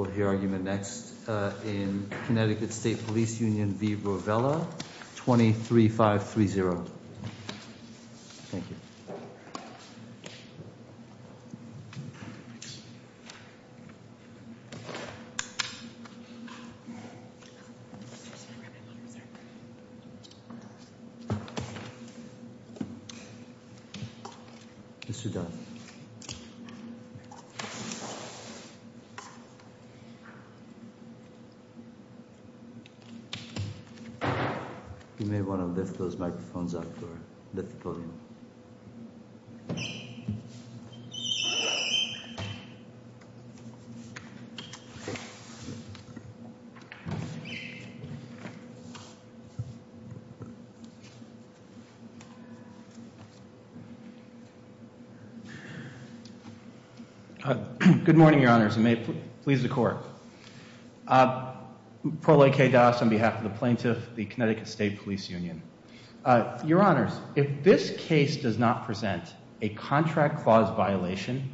We'll hear argument next in Connecticut State Police Union v. Rovella, 23-530. Thank you. Mr. Dunn. You may want to lift those microphones up or lift the podium. Good morning, Your Honors, and may it please the Court. Paul A. K. Doss on behalf of the Plaintiff, the Connecticut State Police Union. Your Honors, if this case does not present a contract clause violation,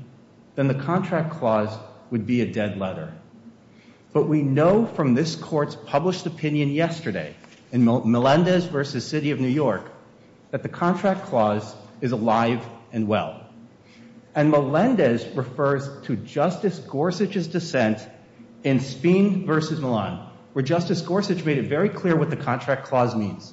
then the contract clause would be a dead letter. But we know from this Court's published opinion yesterday in Melendez v. City of New York that the contract clause is alive and well. And Melendez refers to Justice Gorsuch's dissent in Spine v. Milan, where Justice Gorsuch made it very clear what the contract clause means.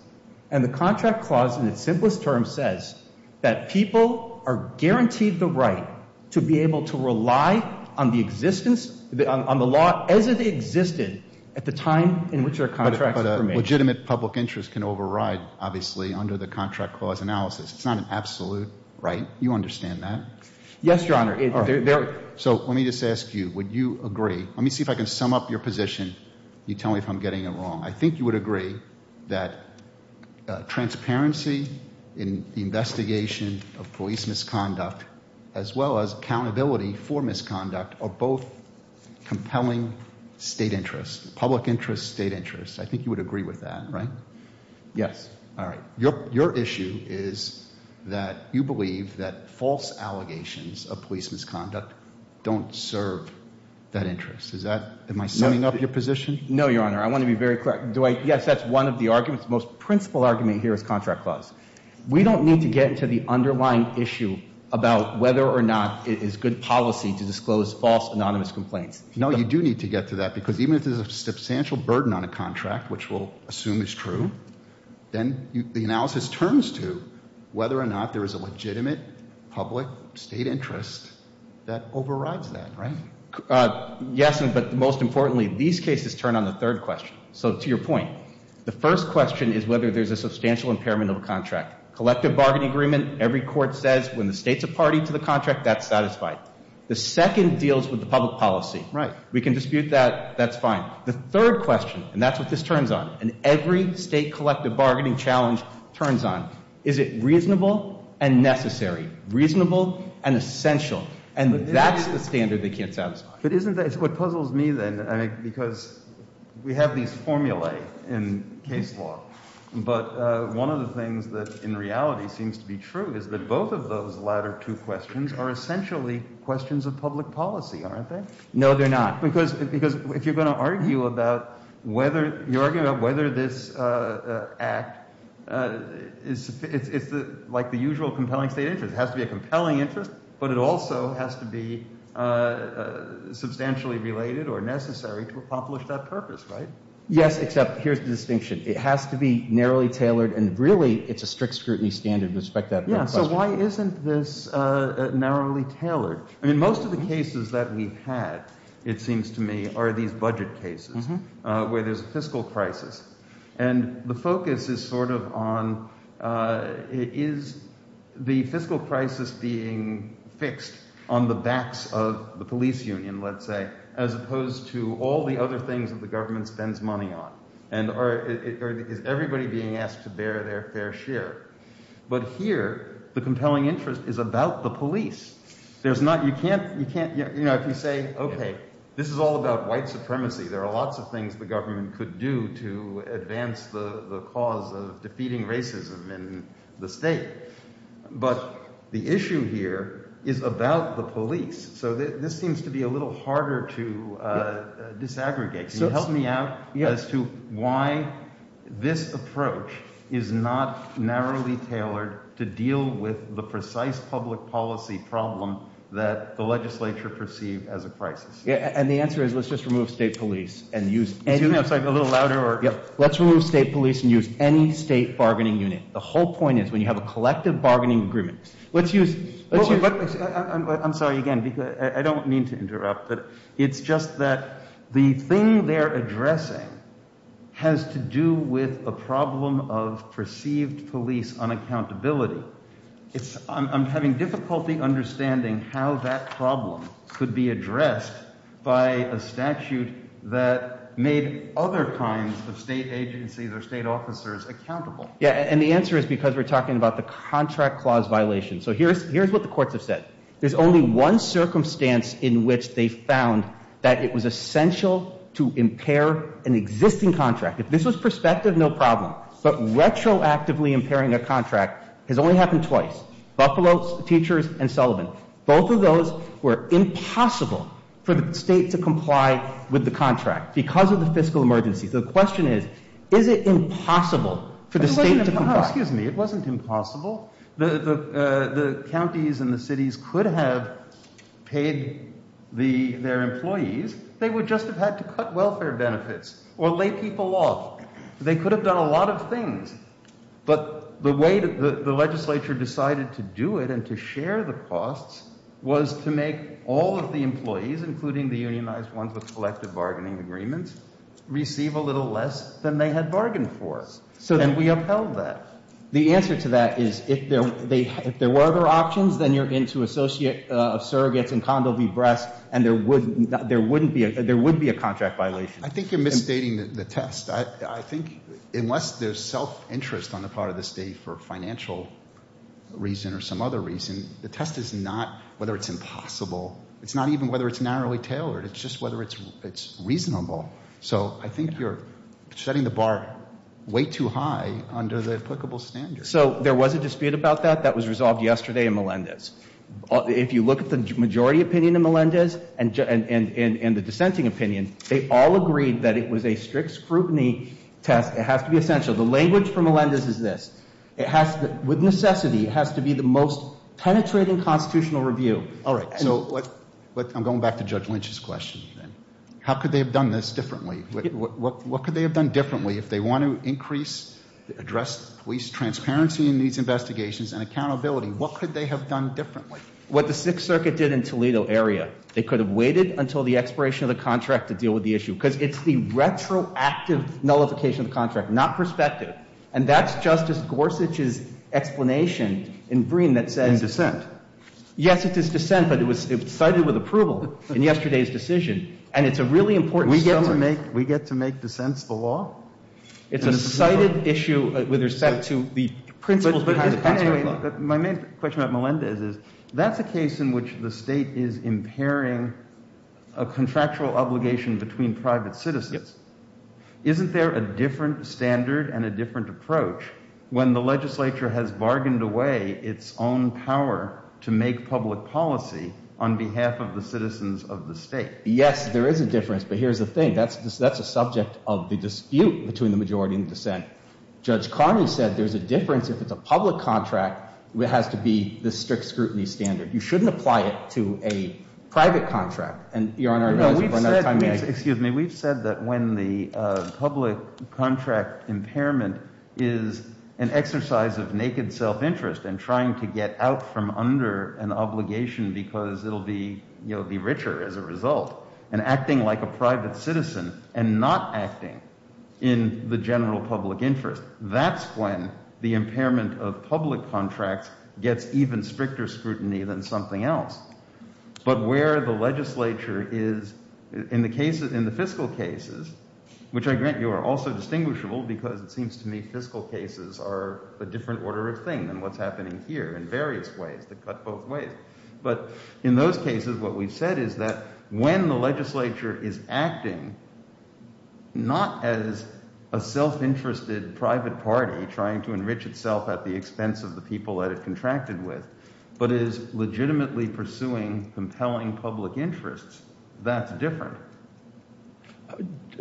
And the contract clause, in its simplest terms, says that people are guaranteed the right to be able to rely on the existence, on the law as it existed at the time in which their contracts were made. But a legitimate public interest can override, obviously, under the contract clause analysis. It's not an absolute right. You understand that? Yes, Your Honor. So let me just ask you, would you agree, let me see if I can sum up your position. You tell me if I'm getting it wrong. I think you would agree that transparency in the investigation of police misconduct, as well as accountability for misconduct, are both compelling state interests, public interests, state interests. I think you would agree with that, right? Yes. All right. Your issue is that you believe that false allegations of police misconduct don't serve that interest. Is that, am I summing up your position? No, Your Honor. I want to be very clear. Yes, that's one of the arguments, the most principal argument here is contract clause. We don't need to get into the underlying issue about whether or not it is good policy to disclose false anonymous complaints. No, you do need to get to that, because even if there's a substantial burden on a contract, which we'll assume is true, then the analysis turns to whether or not there is a legitimate public state interest that overrides that, right? Yes, but most importantly, these cases turn on the third question. So to your point, the first question is whether there's a substantial impairment of a contract. Collective bargain agreement, every court says when the state's a party to the contract, that's satisfied. The second deals with the public policy. Right. We can dispute that, that's fine. The third question, and that's what this turns on, and every state collective bargaining challenge turns on, is it reasonable and necessary, reasonable and essential, and that's the standard they can't satisfy. But isn't that, it's what puzzles me then, I mean, because we have these formulae in case law, but one of the things that in reality seems to be true is that both of those latter two questions are essentially questions of public policy, aren't they? No, they're not. Because if you're going to argue about whether this act, it's like the usual compelling state interest. It has to be a compelling interest, but it also has to be substantially related or necessary to accomplish that purpose, right? Yes, except here's the distinction. It has to be narrowly tailored, and really it's a strict scrutiny standard with respect to that third question. I mean, most of the cases that we've had, it seems to me, are these budget cases where there's a fiscal crisis, and the focus is sort of on is the fiscal crisis being fixed on the backs of the police union, let's say, as opposed to all the other things that the government spends money on, and is everybody being asked to bear their fair share? But here, the compelling interest is about the police. There's not, you can't, you know, if you say, okay, this is all about white supremacy. There are lots of things the government could do to advance the cause of defeating racism in the state. But the issue here is about the police. So this seems to be a little harder to disaggregate. Can you help me out as to why this approach is not narrowly tailored to deal with the precise public policy problem that the legislature perceived as a crisis? Yeah, and the answer is let's just remove state police and use any- Excuse me, I'm sorry, a little louder or- Yeah, let's remove state police and use any state bargaining unit. The whole point is when you have a collective bargaining agreement, let's use- I'm sorry, again, I don't mean to interrupt, but it's just that the thing they're addressing has to do with a problem of perceived police unaccountability. I'm having difficulty understanding how that problem could be addressed by a statute that made other kinds of state agencies or state officers accountable. Yeah, and the answer is because we're talking about the contract clause violation. So here's what the courts have said. There's only one circumstance in which they found that it was essential to impair an existing contract. If this was prospective, no problem. But retroactively impairing a contract has only happened twice, Buffalo Teachers and Sullivan. Both of those were impossible for the state to comply with the contract because of the fiscal emergency. So the question is, is it impossible for the state to comply? Excuse me, it wasn't impossible. The counties and the cities could have paid their employees. They would just have had to cut welfare benefits or lay people off. They could have done a lot of things. But the way the legislature decided to do it and to share the costs was to make all of the employees, including the unionized ones with collective bargaining agreements, receive a little less than they had bargained for. And we upheld that. The answer to that is if there were other options, then you're into associate of surrogates and condo v. breast, and there would be a contract violation. I think you're misstating the test. I think unless there's self-interest on the part of the state for financial reason or some other reason, the test is not whether it's impossible. It's not even whether it's narrowly tailored. It's just whether it's reasonable. So I think you're setting the bar way too high under the applicable standard. So there was a dispute about that. That was resolved yesterday in Melendez. If you look at the majority opinion in Melendez and the dissenting opinion, they all agreed that it was a strict scrutiny test. It has to be essential. The language for Melendez is this. It has to, with necessity, it has to be the most penetrating constitutional review. All right. So I'm going back to Judge Lynch's question. How could they have done this differently? What could they have done differently if they want to increase, address police transparency in these investigations and accountability? What could they have done differently? What the Sixth Circuit did in Toledo area, they could have waited until the expiration of the contract to deal with the issue because it's the retroactive nullification of the contract, not perspective. And that's Justice Gorsuch's explanation in Breen that says. In dissent. Yes, it is dissent, but it was cited with approval in yesterday's decision. And it's a really important summary. We get to make dissents the law? It's a cited issue with respect to the principles. But anyway, my main question about Melendez is that's a case in which the state is impairing a contractual obligation between private citizens. Isn't there a different standard and a different approach when the legislature has bargained away its own power to make public policy on behalf of the citizens of the state? Yes, there is a difference. But here's the thing. That's just that's a subject of the dispute between the majority in dissent. Judge Carney said there's a difference if it's a public contract. It has to be the strict scrutiny standard. You shouldn't apply it to a private contract. Excuse me. We've said that when the public contract impairment is an exercise of naked self-interest and trying to get out from under an obligation because it'll be, you know, be richer as a result and acting like a private citizen and not acting in the general public interest. That's when the impairment of public contracts gets even stricter scrutiny than something else. But where the legislature is in the fiscal cases, which I grant you are also distinguishable because it seems to me fiscal cases are a different order of thing than what's happening here in various ways that cut both ways. But in those cases, what we've said is that when the legislature is acting not as a self-interested private party trying to enrich itself at the expense of the people that it contracted with, but is legitimately pursuing compelling public interests, that's different.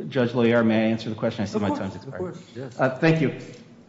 Judge Loyer, may I answer the question? Of course. Thank you.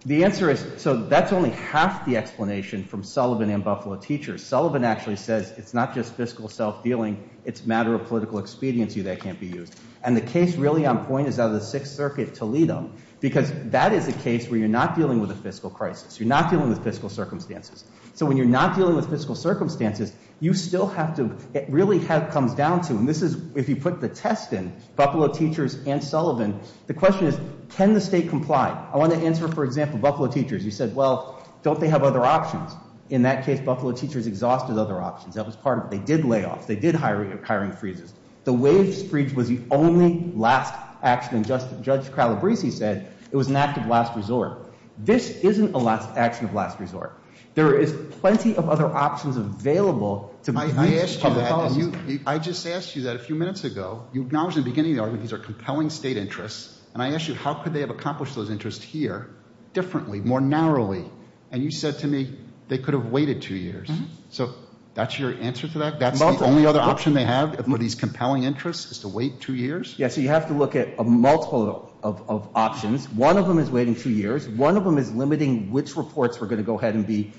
The answer is so that's only half the explanation from Sullivan and Buffalo Teachers. Sullivan actually says it's not just fiscal self-dealing, it's a matter of political expediency that can't be used. And the case really on point is out of the Sixth Circuit Toledo because that is a case where you're not dealing with a fiscal crisis. You're not dealing with fiscal circumstances. So when you're not dealing with fiscal circumstances, you still have to – it really comes down to – and this is – if you put the test in, Buffalo Teachers and Sullivan, the question is can the state comply? I want to answer, for example, Buffalo Teachers. You said, well, don't they have other options? In that case, Buffalo Teachers exhausted other options. That was part of it. They did layoffs. They did hiring freezes. The waives freeze was the only last action. And Judge Calabresi said it was an act of last resort. This isn't an action of last resort. There is plenty of other options available to reach public policy. I asked you that. I just asked you that a few minutes ago. You acknowledged at the beginning of the argument these are compelling state interests, and I asked you how could they have accomplished those interests here differently, more narrowly? And you said to me they could have waited two years. So that's your answer to that? That's the only other option they have for these compelling interests is to wait two years? Yeah, so you have to look at a multiple of options. One of them is waiting two years. One of them is limiting which reports were going to go ahead and be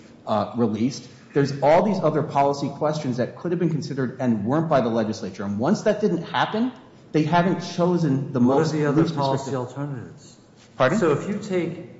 released. There's all these other policy questions that could have been considered and weren't by the legislature. And once that didn't happen, they haven't chosen the most – What are the other policy alternatives? Pardon? So if you take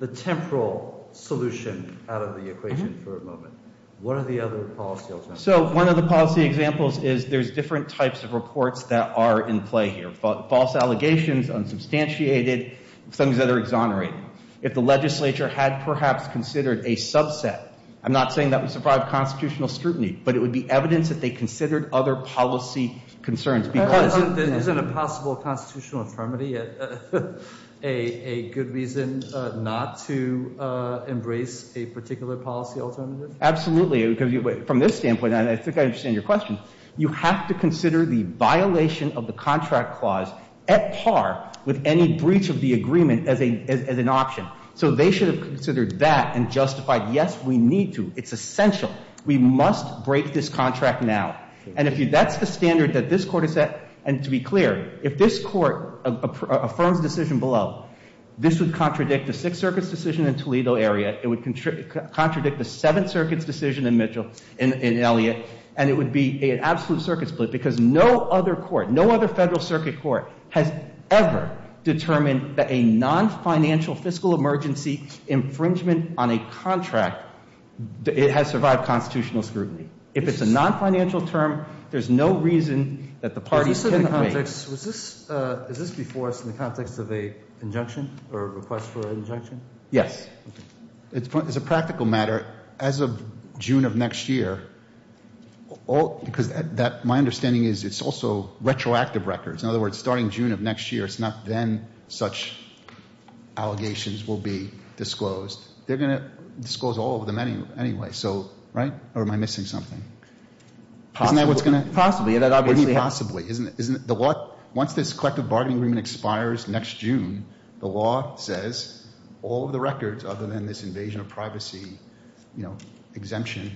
the temporal solution out of the equation for a moment, what are the other policy alternatives? So one of the policy examples is there's different types of reports that are in play here, false allegations, unsubstantiated, things that are exonerated. If the legislature had perhaps considered a subset, I'm not saying that would survive constitutional scrutiny, but it would be evidence that they considered other policy concerns. Isn't a possible constitutional infirmity a good reason not to embrace a particular policy alternative? Absolutely. From this standpoint, I think I understand your question. You have to consider the violation of the contract clause at par with any breach of the agreement as an option. So they should have considered that and justified, yes, we need to. It's essential. We must break this contract now. And if you – that's the standard that this Court has set. And to be clear, if this Court affirms a decision below, this would contradict the Sixth Circuit's decision in Toledo area. It would contradict the Seventh Circuit's decision in Mitchell – in Elliott. And it would be an absolute circuit split because no other court, no other Federal Circuit court has ever determined that a non-financial fiscal emergency infringement on a contract has survived constitutional scrutiny. If it's a non-financial term, there's no reason that the parties can agree. Is this before us in the context of an injunction or a request for an injunction? Yes. As a practical matter, as of June of next year, because my understanding is it's also retroactive records. In other words, starting June of next year, it's not then such allegations will be disclosed. They're going to disclose all of them anyway, so – right? Or am I missing something? Possibly. Isn't that what's going to – Possibly. That obviously – Possibly. Once this collective bargaining agreement expires next June, the law says all of the records other than this invasion of privacy, you know, exemption,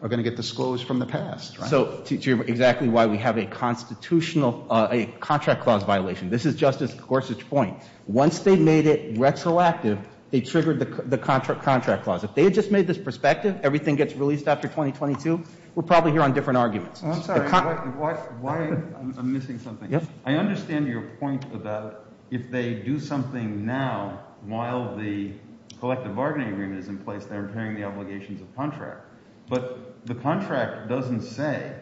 are going to get disclosed from the past. So to – exactly why we have a constitutional – a contract clause violation. This is Justice Gorsuch's point. Once they made it retroactive, they triggered the contract clause. If they had just made this prospective, everything gets released after 2022, we're probably here on different arguments. I'm sorry. Why – I'm missing something. I understand your point about if they do something now while the collective bargaining agreement is in place, they're impairing the obligations of contract. But the contract doesn't say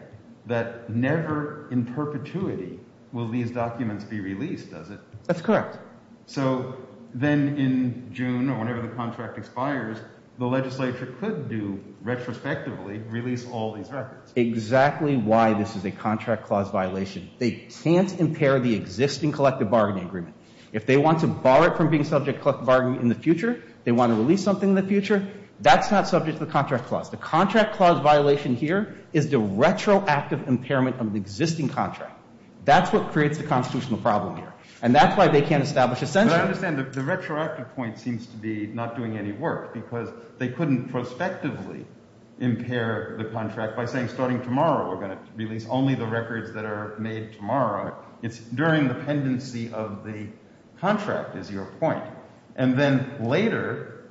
that never in perpetuity will these documents be released, does it? That's correct. So then in June or whenever the contract expires, the legislature could do – retrospectively release all these records. Exactly why this is a contract clause violation. They can't impair the existing collective bargaining agreement. If they want to bar it from being subject to collective bargaining in the future, they want to release something in the future, that's not subject to the contract clause. The contract clause violation here is the retroactive impairment of the existing contract. That's what creates the constitutional problem here. And that's why they can't establish a censure. But I understand the retroactive point seems to be not doing any work because they couldn't prospectively impair the contract by saying starting tomorrow we're going to release only the records that are made tomorrow. It's during the pendency of the contract is your point. And then later,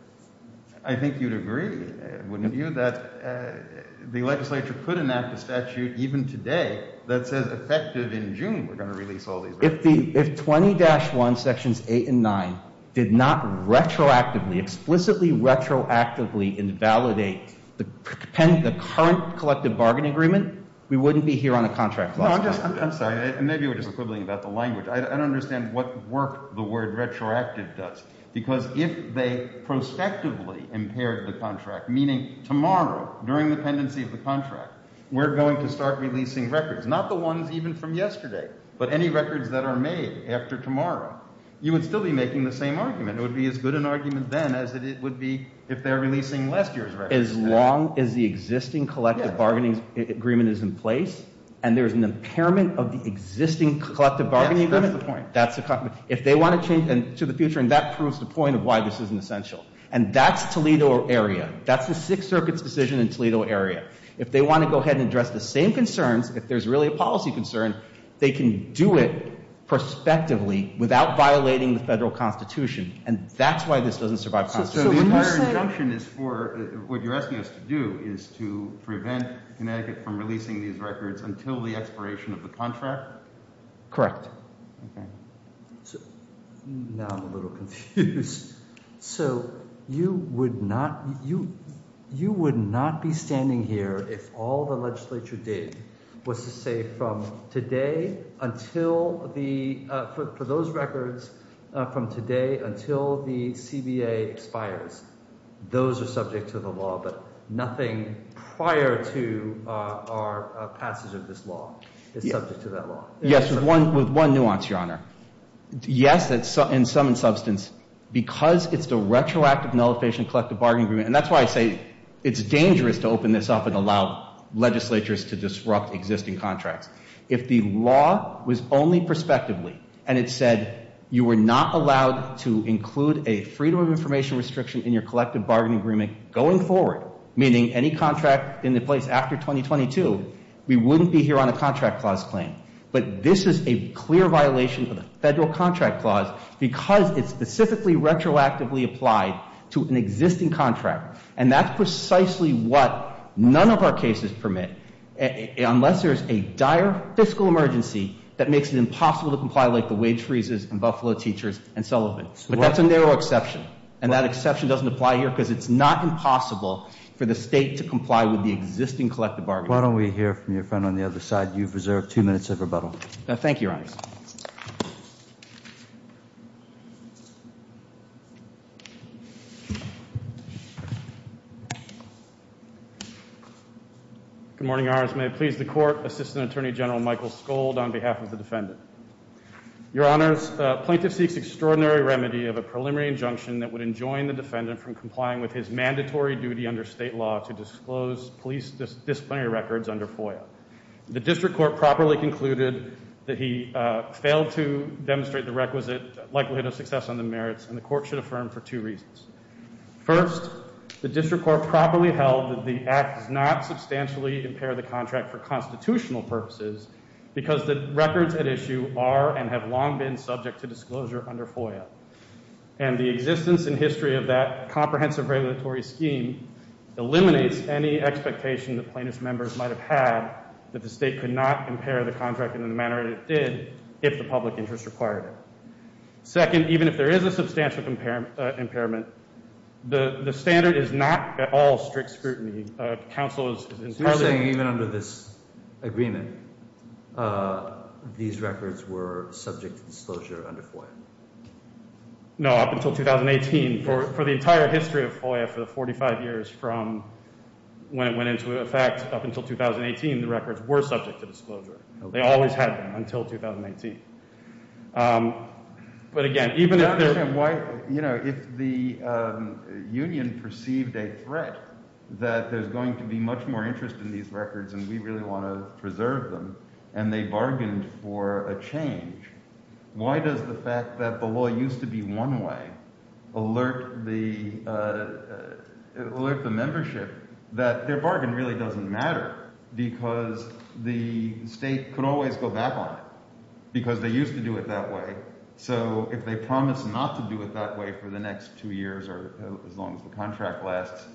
I think you'd agree, wouldn't you, that the legislature could enact a statute even today that says effective in June we're going to release all these records. If 20-1 sections 8 and 9 did not retroactively, explicitly retroactively invalidate the current collective bargaining agreement, we wouldn't be here on a contract clause. No, I'm sorry. Maybe we're just quibbling about the language. I don't understand what work the word retroactive does because if they prospectively impaired the contract, meaning tomorrow during the pendency of the contract, we're going to start releasing records. Not the ones even from yesterday, but any records that are made after tomorrow. You would still be making the same argument. It would be as good an argument then as it would be if they're releasing last year's records. As long as the existing collective bargaining agreement is in place and there's an impairment of the existing collective bargaining agreement. Yes, that's the point. If they want to change to the future, and that proves the point of why this isn't essential. And that's Toledo area. That's the Sixth Circuit's decision in Toledo area. If they want to go ahead and address the same concerns, if there's really a policy concern, they can do it prospectively without violating the Federal Constitution. And that's why this doesn't survive Constitution. So the entire injunction is for what you're asking us to do is to prevent Connecticut from releasing these records until the expiration of the contract? Correct. Okay. Now I'm a little confused. So you would not be standing here if all the legislature did was to say from today until the – for those records from today until the CBA expires. Those are subject to the law, but nothing prior to our passage of this law is subject to that law. Yes, with one nuance, Your Honor. Yes, and some in substance, because it's the retroactive nullification of collective bargaining agreement, and that's why I say it's dangerous to open this up and allow legislatures to disrupt existing contracts. If the law was only prospectively and it said you were not allowed to include a freedom of information restriction in your collective bargaining agreement going forward, meaning any contract in the place after 2022, we wouldn't be here on a contract clause claim. But this is a clear violation of the federal contract clause because it's specifically retroactively applied to an existing contract. And that's precisely what none of our cases permit unless there's a dire fiscal emergency that makes it impossible to comply like the wage freezes and Buffalo Teachers and Sullivan. But that's a narrow exception. And that exception doesn't apply here because it's not impossible for the state to comply with the existing collective bargaining agreement. Why don't we hear from your friend on the other side? You've reserved two minutes of rebuttal. Thank you. Good morning. May it please the court. Assistant Attorney General Michael Scold on behalf of the defendant. Your honors, plaintiff seeks extraordinary remedy of a preliminary injunction that would enjoin the defendant from complying with his mandatory duty under state law to disclose police disciplinary records under FOIA. The district court properly concluded that he failed to demonstrate the requisite likelihood of success on the merits and the court should affirm for two reasons. First, the district court properly held that the act does not substantially impair the contract for constitutional purposes because the records at issue are and have long been subject to disclosure under FOIA. And the existence and history of that comprehensive regulatory scheme eliminates any expectation that plaintiff's members might have had that the state could not impair the contract in the manner it did if the public interest required it. Second, even if there is a substantial impairment, the standard is not at all strict scrutiny. Counsel is entirely... So you're saying even under this agreement, these records were subject to disclosure under FOIA? No, up until 2018. For the entire history of FOIA for the 45 years from when it went into effect up until 2018, the records were subject to disclosure. They always had them until 2018. But again, even if there... I don't understand why, you know, if the union perceived a threat that there's going to be much more interest in these records and we really want to preserve them and they bargained for a change, why does the fact that the law used to be one way alert the membership that their bargain really doesn't matter because the state could always go back on it because they used to do it that way? So if they promise not to do it that way for the next two years or as long as the contract lasts,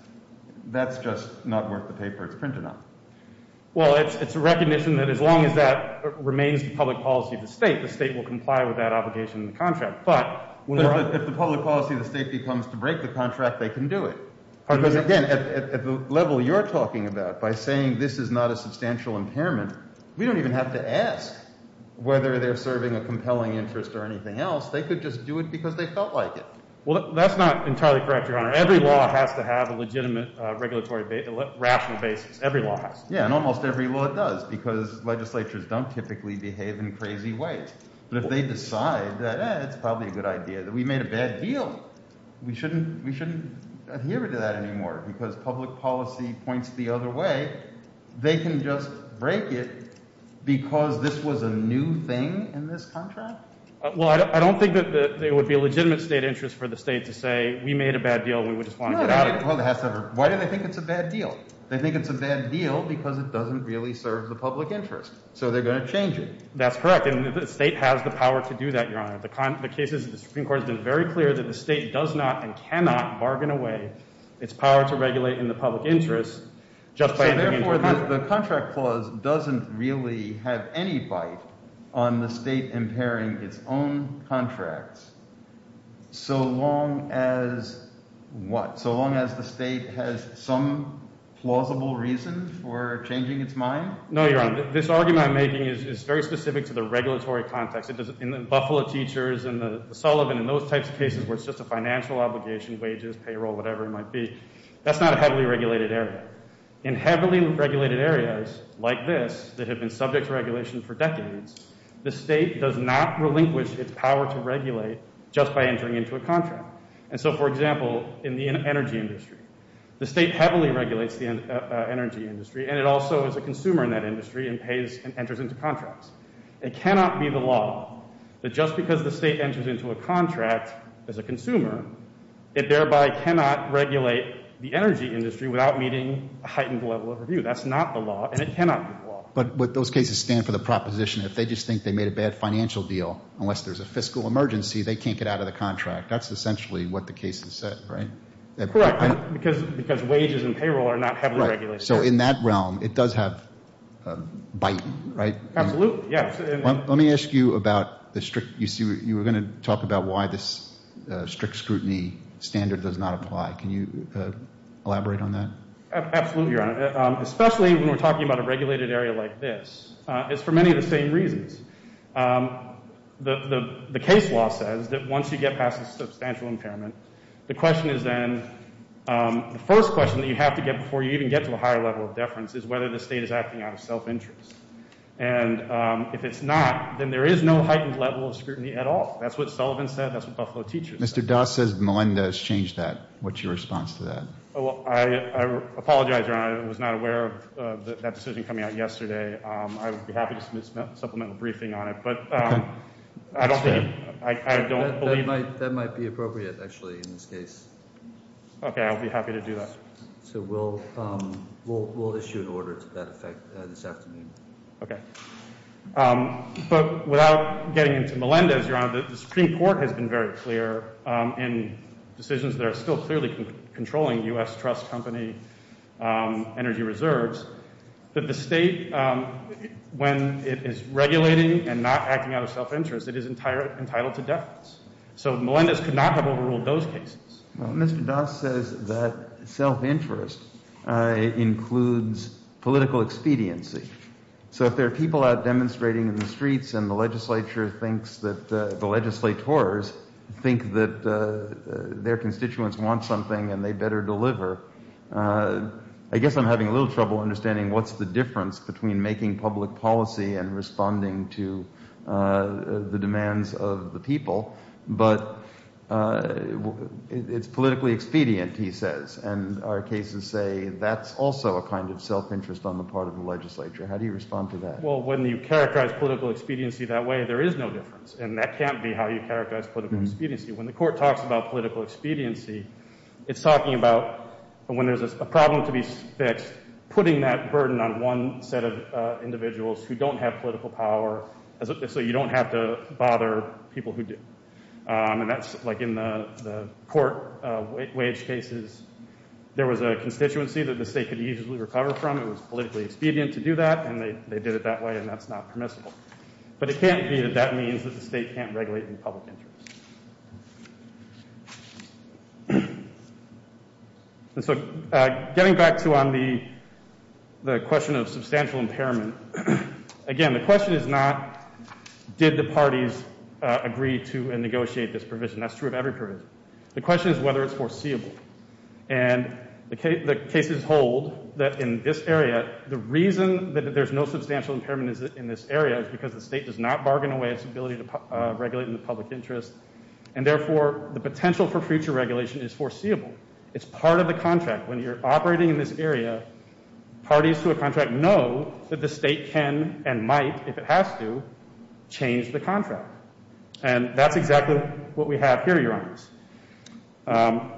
that's just not worth the paper it's printed on. Well, it's a recognition that as long as that remains the public policy of the state, the state will comply with that obligation in the contract. But if the public policy of the state becomes to break the contract, they can do it. Because again, at the level you're talking about, by saying this is not a substantial impairment, we don't even have to ask whether they're serving a compelling interest or anything else. They could just do it because they felt like it. Well, that's not entirely correct, Your Honor. Every law has to have a legitimate regulatory rational basis. Every law has. Yeah, and almost every law does because legislatures don't typically behave in crazy ways. But if they decide that it's probably a good idea, that we made a bad deal, we shouldn't adhere to that anymore because public policy points the other way. They can just break it because this was a new thing in this contract? Well, I don't think that there would be a legitimate state interest for the state to say, we made a bad deal and we would just want to get out of it. Why do they think it's a bad deal? They think it's a bad deal because it doesn't really serve the public interest. So they're going to change it. That's correct. And the state has the power to do that, Your Honor. The Supreme Court has been very clear that the state does not and cannot bargain away its power to regulate in the public interest. So therefore the contract clause doesn't really have any bite on the state impairing its own contracts so long as what? So long as the state has some plausible reason for changing its mind? No, Your Honor. This argument I'm making is very specific to the regulatory context. In the Buffalo teachers and the Sullivan and those types of cases where it's just a financial obligation, wages, payroll, whatever it might be, that's not a heavily regulated area. In heavily regulated areas like this that have been subject to regulation for decades, the state does not relinquish its power to regulate just by entering into a contract. And so, for example, in the energy industry, the state heavily regulates the energy industry, and it also is a consumer in that industry and pays and enters into contracts. It cannot be the law that just because the state enters into a contract as a consumer, it thereby cannot regulate the energy industry without meeting a heightened level of review. That's not the law, and it cannot be the law. But would those cases stand for the proposition if they just think they made a bad financial deal, unless there's a fiscal emergency, they can't get out of the contract? That's essentially what the case has said, right? Correct. Because wages and payroll are not heavily regulated. So in that realm, it does have bite, right? Absolutely, yes. Let me ask you about the strict – you were going to talk about why this strict scrutiny standard does not apply. Can you elaborate on that? Absolutely, Your Honor, especially when we're talking about a regulated area like this. It's for many of the same reasons. The case law says that once you get past a substantial impairment, the question is then – the first question that you have to get before you even get to a higher level of deference is whether the state is acting out of self-interest. And if it's not, then there is no heightened level of scrutiny at all. That's what Sullivan said. That's what Buffalo teachers said. Mr. Doss says Melinda has changed that. What's your response to that? Well, I apologize, Your Honor. I was not aware of that decision coming out yesterday. I would be happy to submit a supplemental briefing on it. But I don't think – I don't believe – That might be appropriate, actually, in this case. Okay, I would be happy to do that. So we'll issue an order to that effect this afternoon. Okay. But without getting into Melinda's, Your Honor, the Supreme Court has been very clear in decisions that are still clearly controlling U.S. trust company energy reserves that the state, when it is regulating and not acting out of self-interest, it is entitled to deference. So Melinda's could not have overruled those cases. Well, Mr. Doss says that self-interest includes political expediency. So if there are people out demonstrating in the streets and the legislature thinks that – the legislators think that their constituents want something and they better deliver, I guess I'm having a little trouble understanding what's the difference between making public policy and responding to the demands of the people. But it's politically expedient, he says. And our cases say that's also a kind of self-interest on the part of the legislature. How do you respond to that? Well, when you characterize political expediency that way, there is no difference. And that can't be how you characterize political expediency. When the Court talks about political expediency, it's talking about when there's a problem to be fixed, putting that burden on one set of individuals who don't have political power so you don't have to bother people who do. And that's like in the court wage cases. There was a constituency that the state could easily recover from. It was politically expedient to do that, and they did it that way, and that's not permissible. But it can't be that that means that the state can't regulate in public interest. And so getting back to the question of substantial impairment, again, the question is not did the parties agree to and negotiate this provision. That's true of every provision. The question is whether it's foreseeable. And the cases hold that in this area, the reason that there's no substantial impairment in this area is because the state does not bargain away its ability to regulate in the public interest. And therefore, the potential for future regulation is foreseeable. It's part of the contract. When you're operating in this area, parties to a contract know that the state can and might, if it has to, change the contract. And that's exactly what we have here, Your Honors.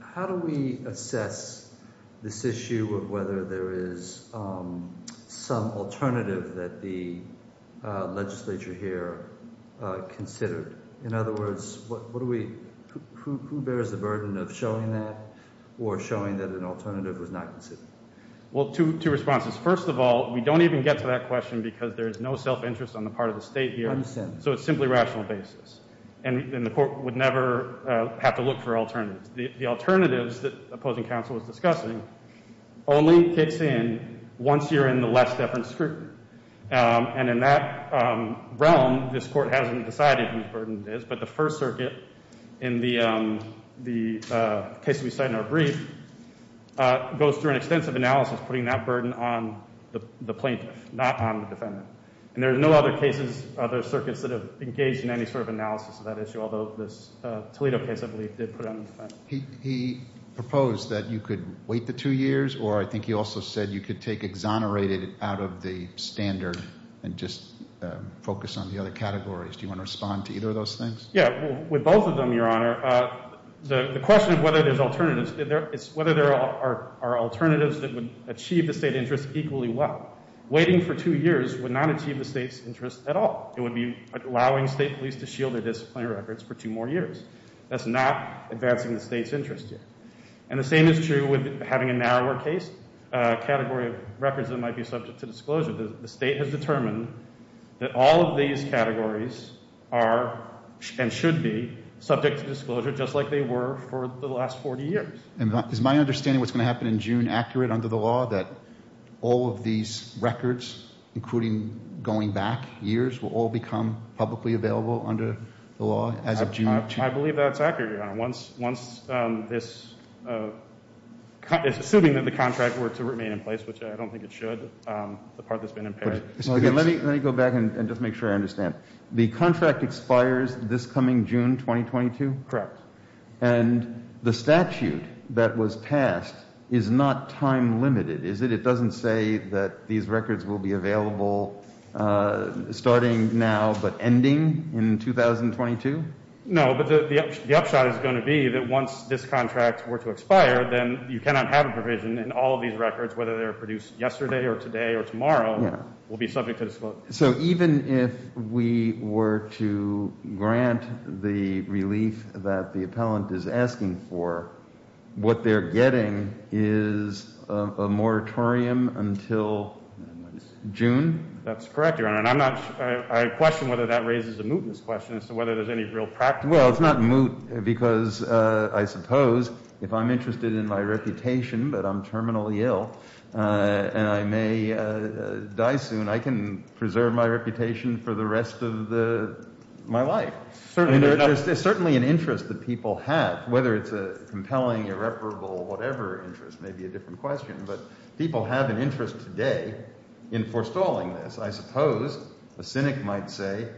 How do we assess this issue of whether there is some alternative that the legislature here considered? In other words, who bears the burden of showing that or showing that an alternative was not considered? Well, two responses. First of all, we don't even get to that question because there is no self-interest on the part of the state here. I understand. So it's simply rational basis. And the court would never have to look for alternatives. The alternatives that opposing counsel was discussing only kicks in once you're in the less deference group. And in that realm, this court hasn't decided whose burden it is. But the First Circuit, in the case we cite in our brief, goes through an extensive analysis putting that burden on the plaintiff, not on the defendant. And there are no other cases, other circuits, that have engaged in any sort of analysis of that issue, although this Toledo case, I believe, did put it on the defendant. He proposed that you could wait the two years, or I think he also said you could take exonerated out of the standard and just focus on the other categories. Do you want to respond to either of those things? Yeah. With both of them, Your Honor, the question of whether there's alternatives is whether there are alternatives that would achieve the state interest equally well. Waiting for two years would not achieve the state's interest at all. It would be allowing state police to shield their disciplinary records for two more years. That's not advancing the state's interest here. And the same is true with having a narrower case category of records that might be subject to disclosure. The state has determined that all of these categories are and should be subject to disclosure, just like they were for the last 40 years. Is my understanding of what's going to happen in June accurate under the law, that all of these records, including going back years, will all become publicly available under the law as of June? I believe that's accurate, Your Honor. Assuming that the contract were to remain in place, which I don't think it should, the part that's been impaired. Let me go back and just make sure I understand. The contract expires this coming June 2022? Correct. And the statute that was passed is not time limited, is it? It doesn't say that these records will be available starting now but ending in 2022? No, but the upshot is going to be that once this contract were to expire, then you cannot have a provision and all of these records, whether they're produced yesterday or today or tomorrow, will be subject to disclosure. So even if we were to grant the relief that the appellant is asking for, what they're getting is a moratorium until June? That's correct, Your Honor. And I question whether that raises a mootness question as to whether there's any real practical— for the rest of my life. There's certainly an interest that people have, whether it's a compelling, irreparable, whatever interest may be a different question, but people have an interest today in forestalling this. I suppose a cynic might say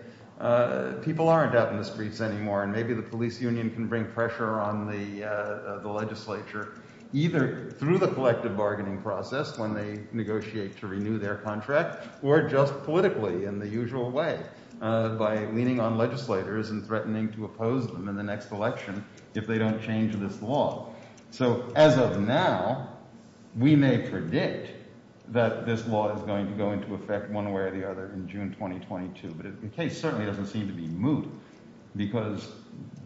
people aren't out in the streets anymore and maybe the police union can bring pressure on the legislature either through the collective bargaining process when they negotiate to renew their contract or just politically in the usual way by leaning on legislators and threatening to oppose them in the next election if they don't change this law. So as of now, we may predict that this law is going to go into effect one way or the other in June 2022, but the case certainly doesn't seem to be moot because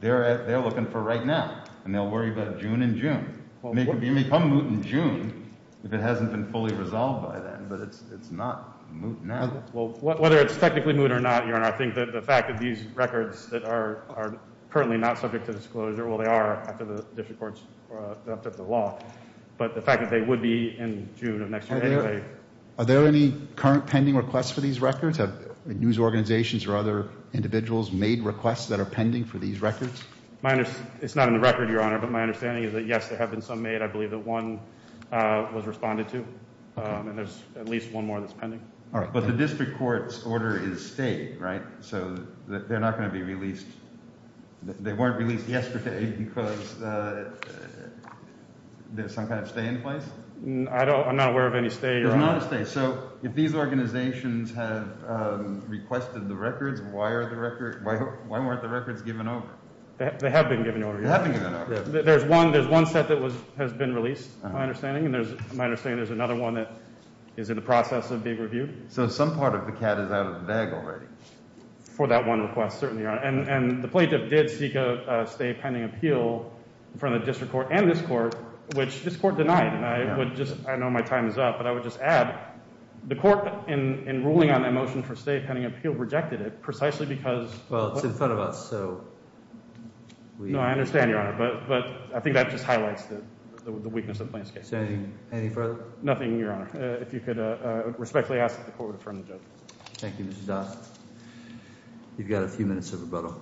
they're looking for right now, and they'll worry about June and June. It may become moot in June if it hasn't been fully resolved by then, but it's not moot now. Well, whether it's technically moot or not, Your Honor, I think that the fact that these records that are currently not subject to disclosure—well, they are after the district courts adopted the law, but the fact that they would be in June of next year anyway— Are there any current pending requests for these records? Have news organizations or other individuals made requests that are pending for these records? It's not in the record, Your Honor, but my understanding is that, yes, there have been some made. I believe that one was responded to, and there's at least one more that's pending. But the district court's order is stay, right? So they're not going to be released—they weren't released yesterday because there's some kind of stay in place? I'm not aware of any stay, Your Honor. There's not a stay. So if these organizations have requested the records, why aren't the records given over? They have been given over, Your Honor. They have been given over. There's one set that has been released, my understanding, and my understanding there's another one that is in the process of being reviewed. So some part of the cat is out of the bag already. For that one request, certainly, Your Honor. And the plaintiff did seek a stay pending appeal from the district court and this court, which this court denied. And I would just—I know my time is up, but I would just add the court, in ruling on that motion for stay pending appeal, rejected it precisely because— Well, it's in front of us, so we— No, I understand, Your Honor. But I think that just highlights the weakness of the plaintiff's case. Anything further? Nothing, Your Honor. If you could respectfully ask that the court reaffirm the judgment. Thank you, Mr. Dodd. You've got a few minutes of rebuttal.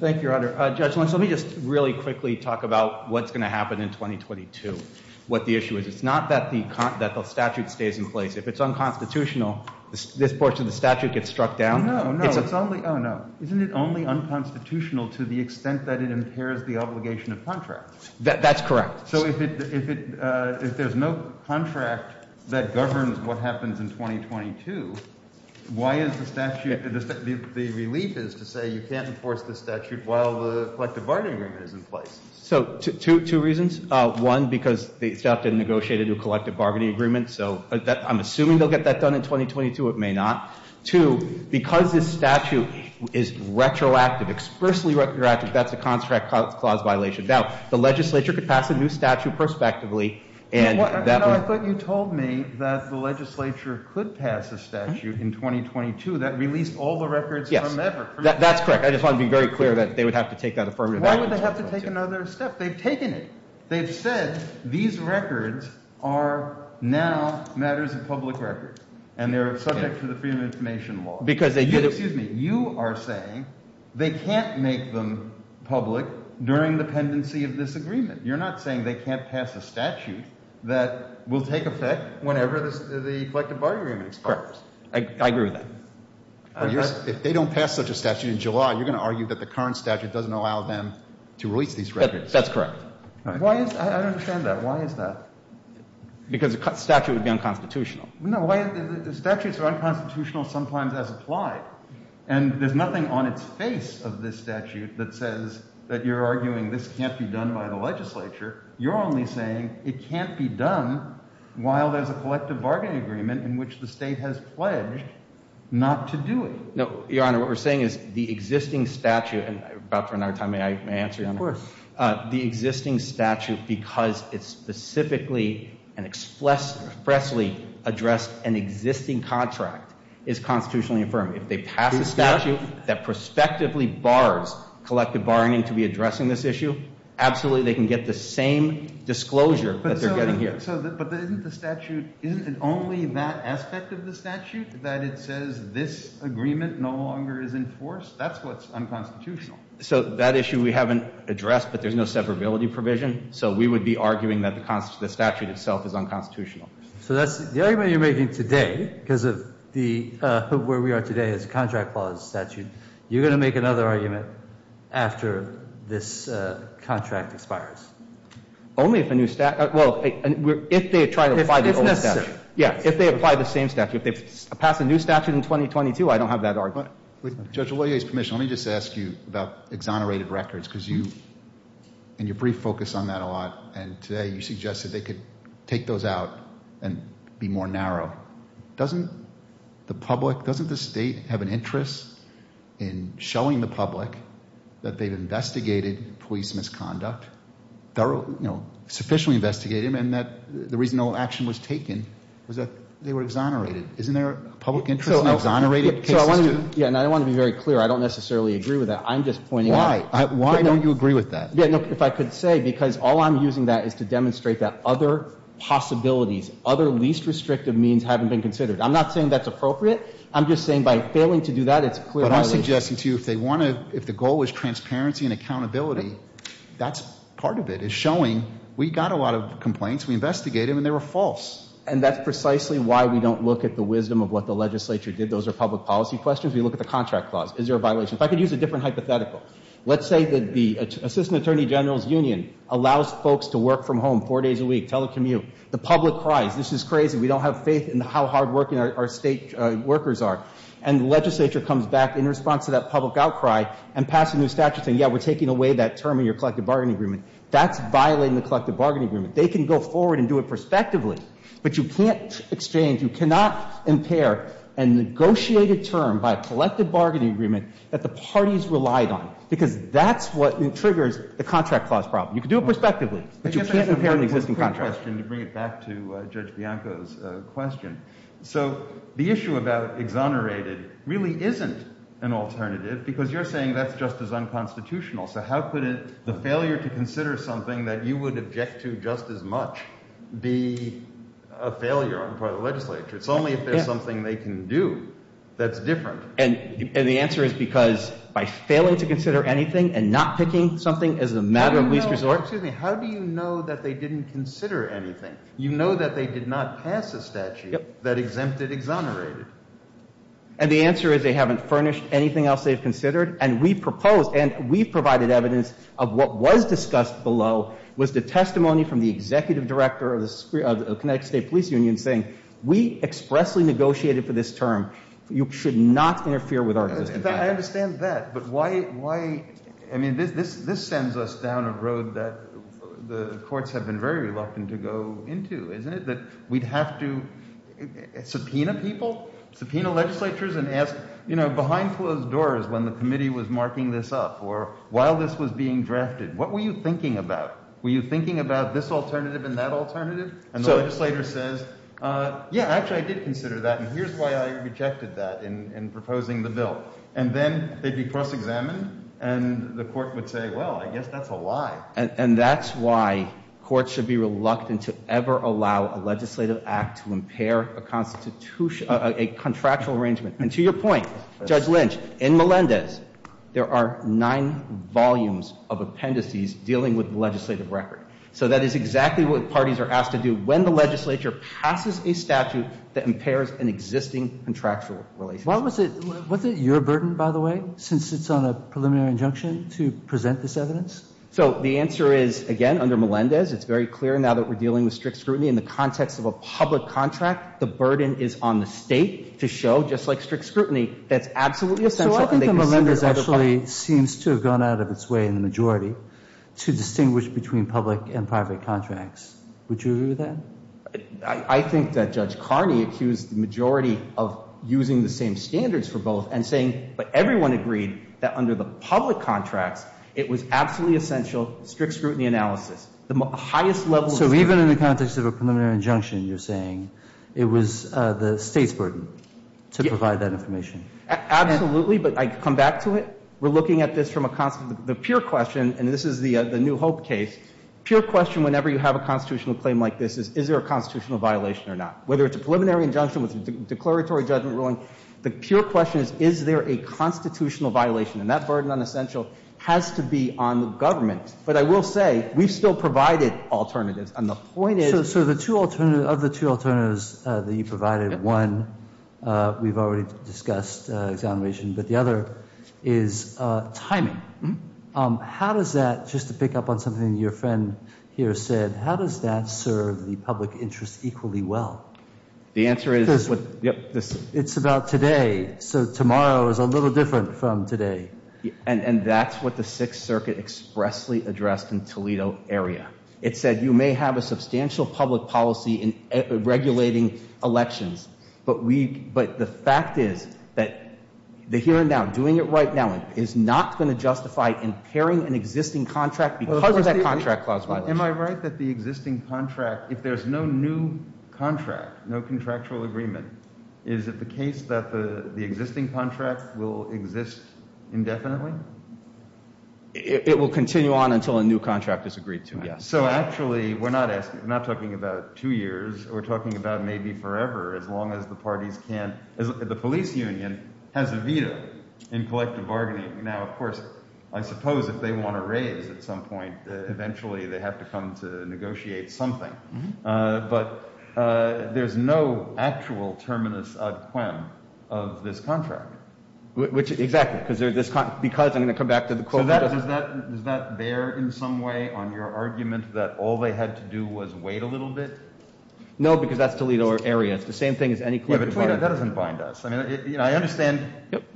Thank you, Your Honor. Judge Lynch, let me just really quickly talk about what's going to happen in 2022, what the issue is. It's not that the statute stays in place. If it's unconstitutional, this portion of the statute gets struck down. No, no. It's only—oh, no. Isn't it only unconstitutional to the extent that it impairs the obligation of contract? That's correct. So if it—if there's no contract that governs what happens in 2022, why is the statute—the relief is to say you can't enforce the statute while the collective bargaining agreement is in place. So two reasons. One, because the statute didn't negotiate a new collective bargaining agreement, so I'm assuming they'll get that done in 2022. It may not. Two, because this statute is retroactive, expressly retroactive, that's a contract clause violation. Now, the legislature could pass a new statute prospectively, and that would— I thought you told me that the legislature could pass a statute in 2022 that released all the records from ever. Yes, that's correct. I just wanted to be very clear that they would have to take that affirmative action. Why would they have to take another step? They've taken it. They've said these records are now matters of public record, and they're subject to the Freedom of Information Law. Because they did— Excuse me. You are saying they can't make them public during the pendency of this agreement. You're not saying they can't pass a statute that will take effect whenever the collective bargaining agreement expires. Correct. I agree with that. If they don't pass such a statute in July, you're going to argue that the current statute doesn't allow them to release these records. That's correct. Why is—I don't understand that. Why is that? Because a statute would be unconstitutional. No, why—statutes are unconstitutional sometimes as applied. And there's nothing on its face of this statute that says that you're arguing this can't be done by the legislature. You're only saying it can't be done while there's a collective bargaining agreement in which the State has pledged not to do it. No, Your Honor, what we're saying is the existing statute—and we're about for another time. May I answer, Your Honor? Of course. The existing statute, because it specifically and expressly addressed an existing contract, is constitutionally affirmed. If they pass a statute that prospectively bars collective bargaining to be addressing this issue, absolutely they can get the same disclosure that they're getting here. But isn't the statute—isn't it only that aspect of the statute that it says this agreement no longer is enforced? That's what's unconstitutional. So that issue we haven't addressed, but there's no separability provision, so we would be arguing that the statute itself is unconstitutional. So that's—the argument you're making today, because of the—where we are today is contract clause statute, you're going to make another argument after this contract expires? Only if a new statute—well, if they try to apply the old statute. If necessary. Yeah, if they apply the same statute. If they pass a new statute in 2022, I don't have that argument. With Judge Oloye's permission, let me just ask you about exonerated records, because you—and you brief focus on that a lot, and today you suggested they could take those out and be more narrow. Doesn't the public—doesn't the state have an interest in showing the public that they've investigated police misconduct? Thoroughly, you know, sufficiently investigated, and that the reason no action was taken was that they were exonerated. Isn't there a public interest in exonerated cases too? Yeah, and I want to be very clear. I don't necessarily agree with that. I'm just pointing out— Why? Why don't you agree with that? Yeah, no, if I could say, because all I'm using that is to demonstrate that other possibilities, other least restrictive means haven't been considered. I'm not saying that's appropriate. I'm just saying by failing to do that, it's clearly— But I'm suggesting to you if they want to—if the goal is transparency and accountability, that's part of it, is showing we got a lot of complaints, we investigated them, and they were false. And that's precisely why we don't look at the wisdom of what the legislature did. Those are public policy questions. We look at the contract clause. Is there a violation? If I could use a different hypothetical. Let's say that the assistant attorney general's union allows folks to work from home four days a week, telecommute. The public cries. This is crazy. We don't have faith in how hardworking our state workers are. And the legislature comes back in response to that public outcry and passes new statutes, and yeah, we're taking away that term in your collective bargaining agreement. That's violating the collective bargaining agreement. They can go forward and do it prospectively, but you can't exchange. You cannot impair a negotiated term by a collective bargaining agreement that the parties relied on, because that's what triggers the contract clause problem. You can do it prospectively, but you can't impair an existing contract. I guess I have one quick question to bring it back to Judge Bianco's question. So the issue about exonerated really isn't an alternative because you're saying that's just as unconstitutional. So how could the failure to consider something that you would object to just as much be a failure on the part of the legislature? It's only if there's something they can do that's different. And the answer is because by failing to consider anything and not picking something is a matter of least resort. Excuse me. How do you know that they didn't consider anything? You know that they did not pass a statute that exempted exonerated. And the answer is they haven't furnished anything else they've considered. And we proposed and we provided evidence of what was discussed below was the testimony from the executive director of the Connecticut State Police Union saying, we expressly negotiated for this term. You should not interfere with our existing contract. I understand that. But why, I mean, this sends us down a road that the courts have been very reluctant to go into, isn't it? That we'd have to subpoena people, subpoena legislatures and ask, you know, behind closed doors when the committee was marking this up or while this was being drafted, what were you thinking about? Were you thinking about this alternative and that alternative? And the legislator says, yeah, actually, I did consider that. And here's why I rejected that in proposing the bill. And then they'd be cross-examined. And the court would say, well, I guess that's a lie. And that's why courts should be reluctant to ever allow a legislative act to impair a constitutional, a contractual arrangement. And to your point, Judge Lynch, in Melendez, there are nine volumes of appendices dealing with the legislative record. So that is exactly what parties are asked to do when the legislature passes a statute that impairs an existing contractual relationship. What was it, was it your burden, by the way, since it's on a preliminary injunction to present this evidence? So the answer is, again, under Melendez, it's very clear now that we're dealing with strict scrutiny. In the context of a public contract, the burden is on the State to show, just like strict scrutiny, that's absolutely essential. So I think the members actually seems to have gone out of its way in the majority to distinguish between public and private contracts. Would you agree with that? I think that Judge Carney accused the majority of using the same standards for both and saying, but everyone agreed that under the public contracts, it was absolutely essential, strict scrutiny analysis. The highest level of scrutiny. So even in the context of a preliminary injunction, you're saying it was the State's burden to provide that information? Absolutely. But I come back to it. We're looking at this from a constant, the pure question, and this is the new Hope case, pure question whenever you have a constitutional claim like this is, is there a constitutional violation or not? Whether it's a preliminary injunction with a declaratory judgment ruling, the pure question is, is there a constitutional violation? And that burden on essential has to be on the government. But I will say, we've still provided alternatives. And the point is. So the two alternatives, of the two alternatives that you provided, one, we've already discussed exoneration, but the other is timing. How does that, just to pick up on something your friend here said, how does that serve the public interest equally well? The answer is. It's about today. So tomorrow is a little different from today. And that's what the Sixth Circuit expressly addressed in Toledo area. It said you may have a substantial public policy in regulating elections. But the fact is that the here and now, doing it right now, is not going to justify impairing an existing contract because of that contract clause violation. Am I right that the existing contract, if there's no new contract, no contractual agreement, is it the case that the existing contract will exist indefinitely? It will continue on until a new contract is agreed to, yes. So actually, we're not talking about two years. We're talking about maybe forever, as long as the parties can. The police union has a veto in collective bargaining. Now, of course, I suppose if they want to raise at some point, eventually they have to come to negotiate something. But there's no actual terminus ad quem of this contract. Which, exactly. Because I'm going to come back to the quote. Does that bear in some way on your argument that all they had to do was wait a little bit? No, because that's Toledo area. It's the same thing as any court. That doesn't bind us. I understand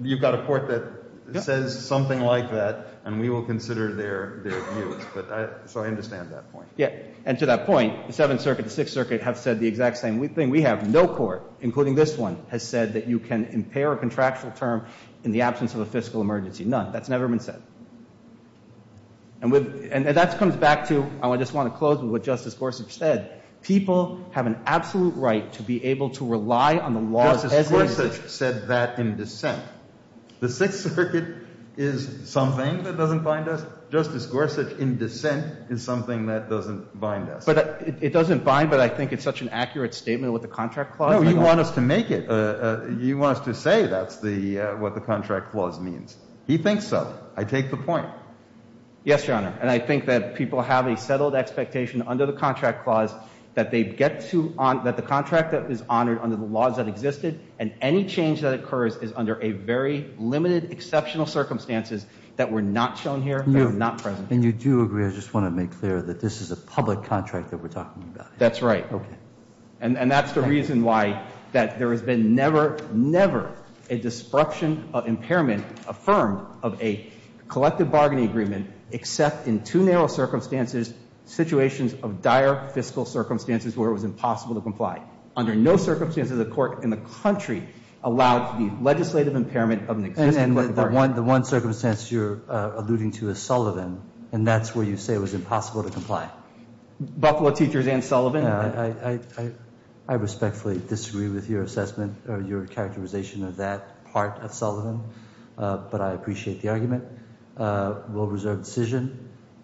you've got a court that says something like that, and we will consider their views. So I understand that point. And to that point, the Seventh Circuit, the Sixth Circuit have said the exact same thing. We have no court, including this one, has said that you can impair a contractual term in the absence of a fiscal emergency. None. That's never been said. And that comes back to, I just want to close with what Justice Gorsuch said. People have an absolute right to be able to rely on the law as it is. Justice Gorsuch said that in dissent. The Sixth Circuit is something that doesn't bind us. Justice Gorsuch, in dissent, is something that doesn't bind us. It doesn't bind, but I think it's such an accurate statement with the contract clause. No, you want us to make it. You want us to say that's what the contract clause means. He thinks so. I take the point. Yes, Your Honor, and I think that people have a settled expectation under the contract clause that they get to, that the contract is honored under the laws that existed, and any change that occurs is under a very limited, exceptional circumstances that were not shown here, that were not present. And you do agree, I just want to make clear, that this is a public contract that we're talking about. That's right. Okay. And that's the reason why that there has been never, never a destruction of impairment affirmed of a collective bargaining agreement, except in two narrow circumstances, situations of dire fiscal circumstances where it was impossible to comply. Under no circumstances has a court in the country allowed the legislative impairment of an existing bargaining agreement. And the one circumstance you're alluding to is Sullivan, and that's where you say it was impossible to comply. Buffalo Teachers and Sullivan. I respectfully disagree with your assessment or your characterization of that part of Sullivan, but I appreciate the argument. We'll reserve decision.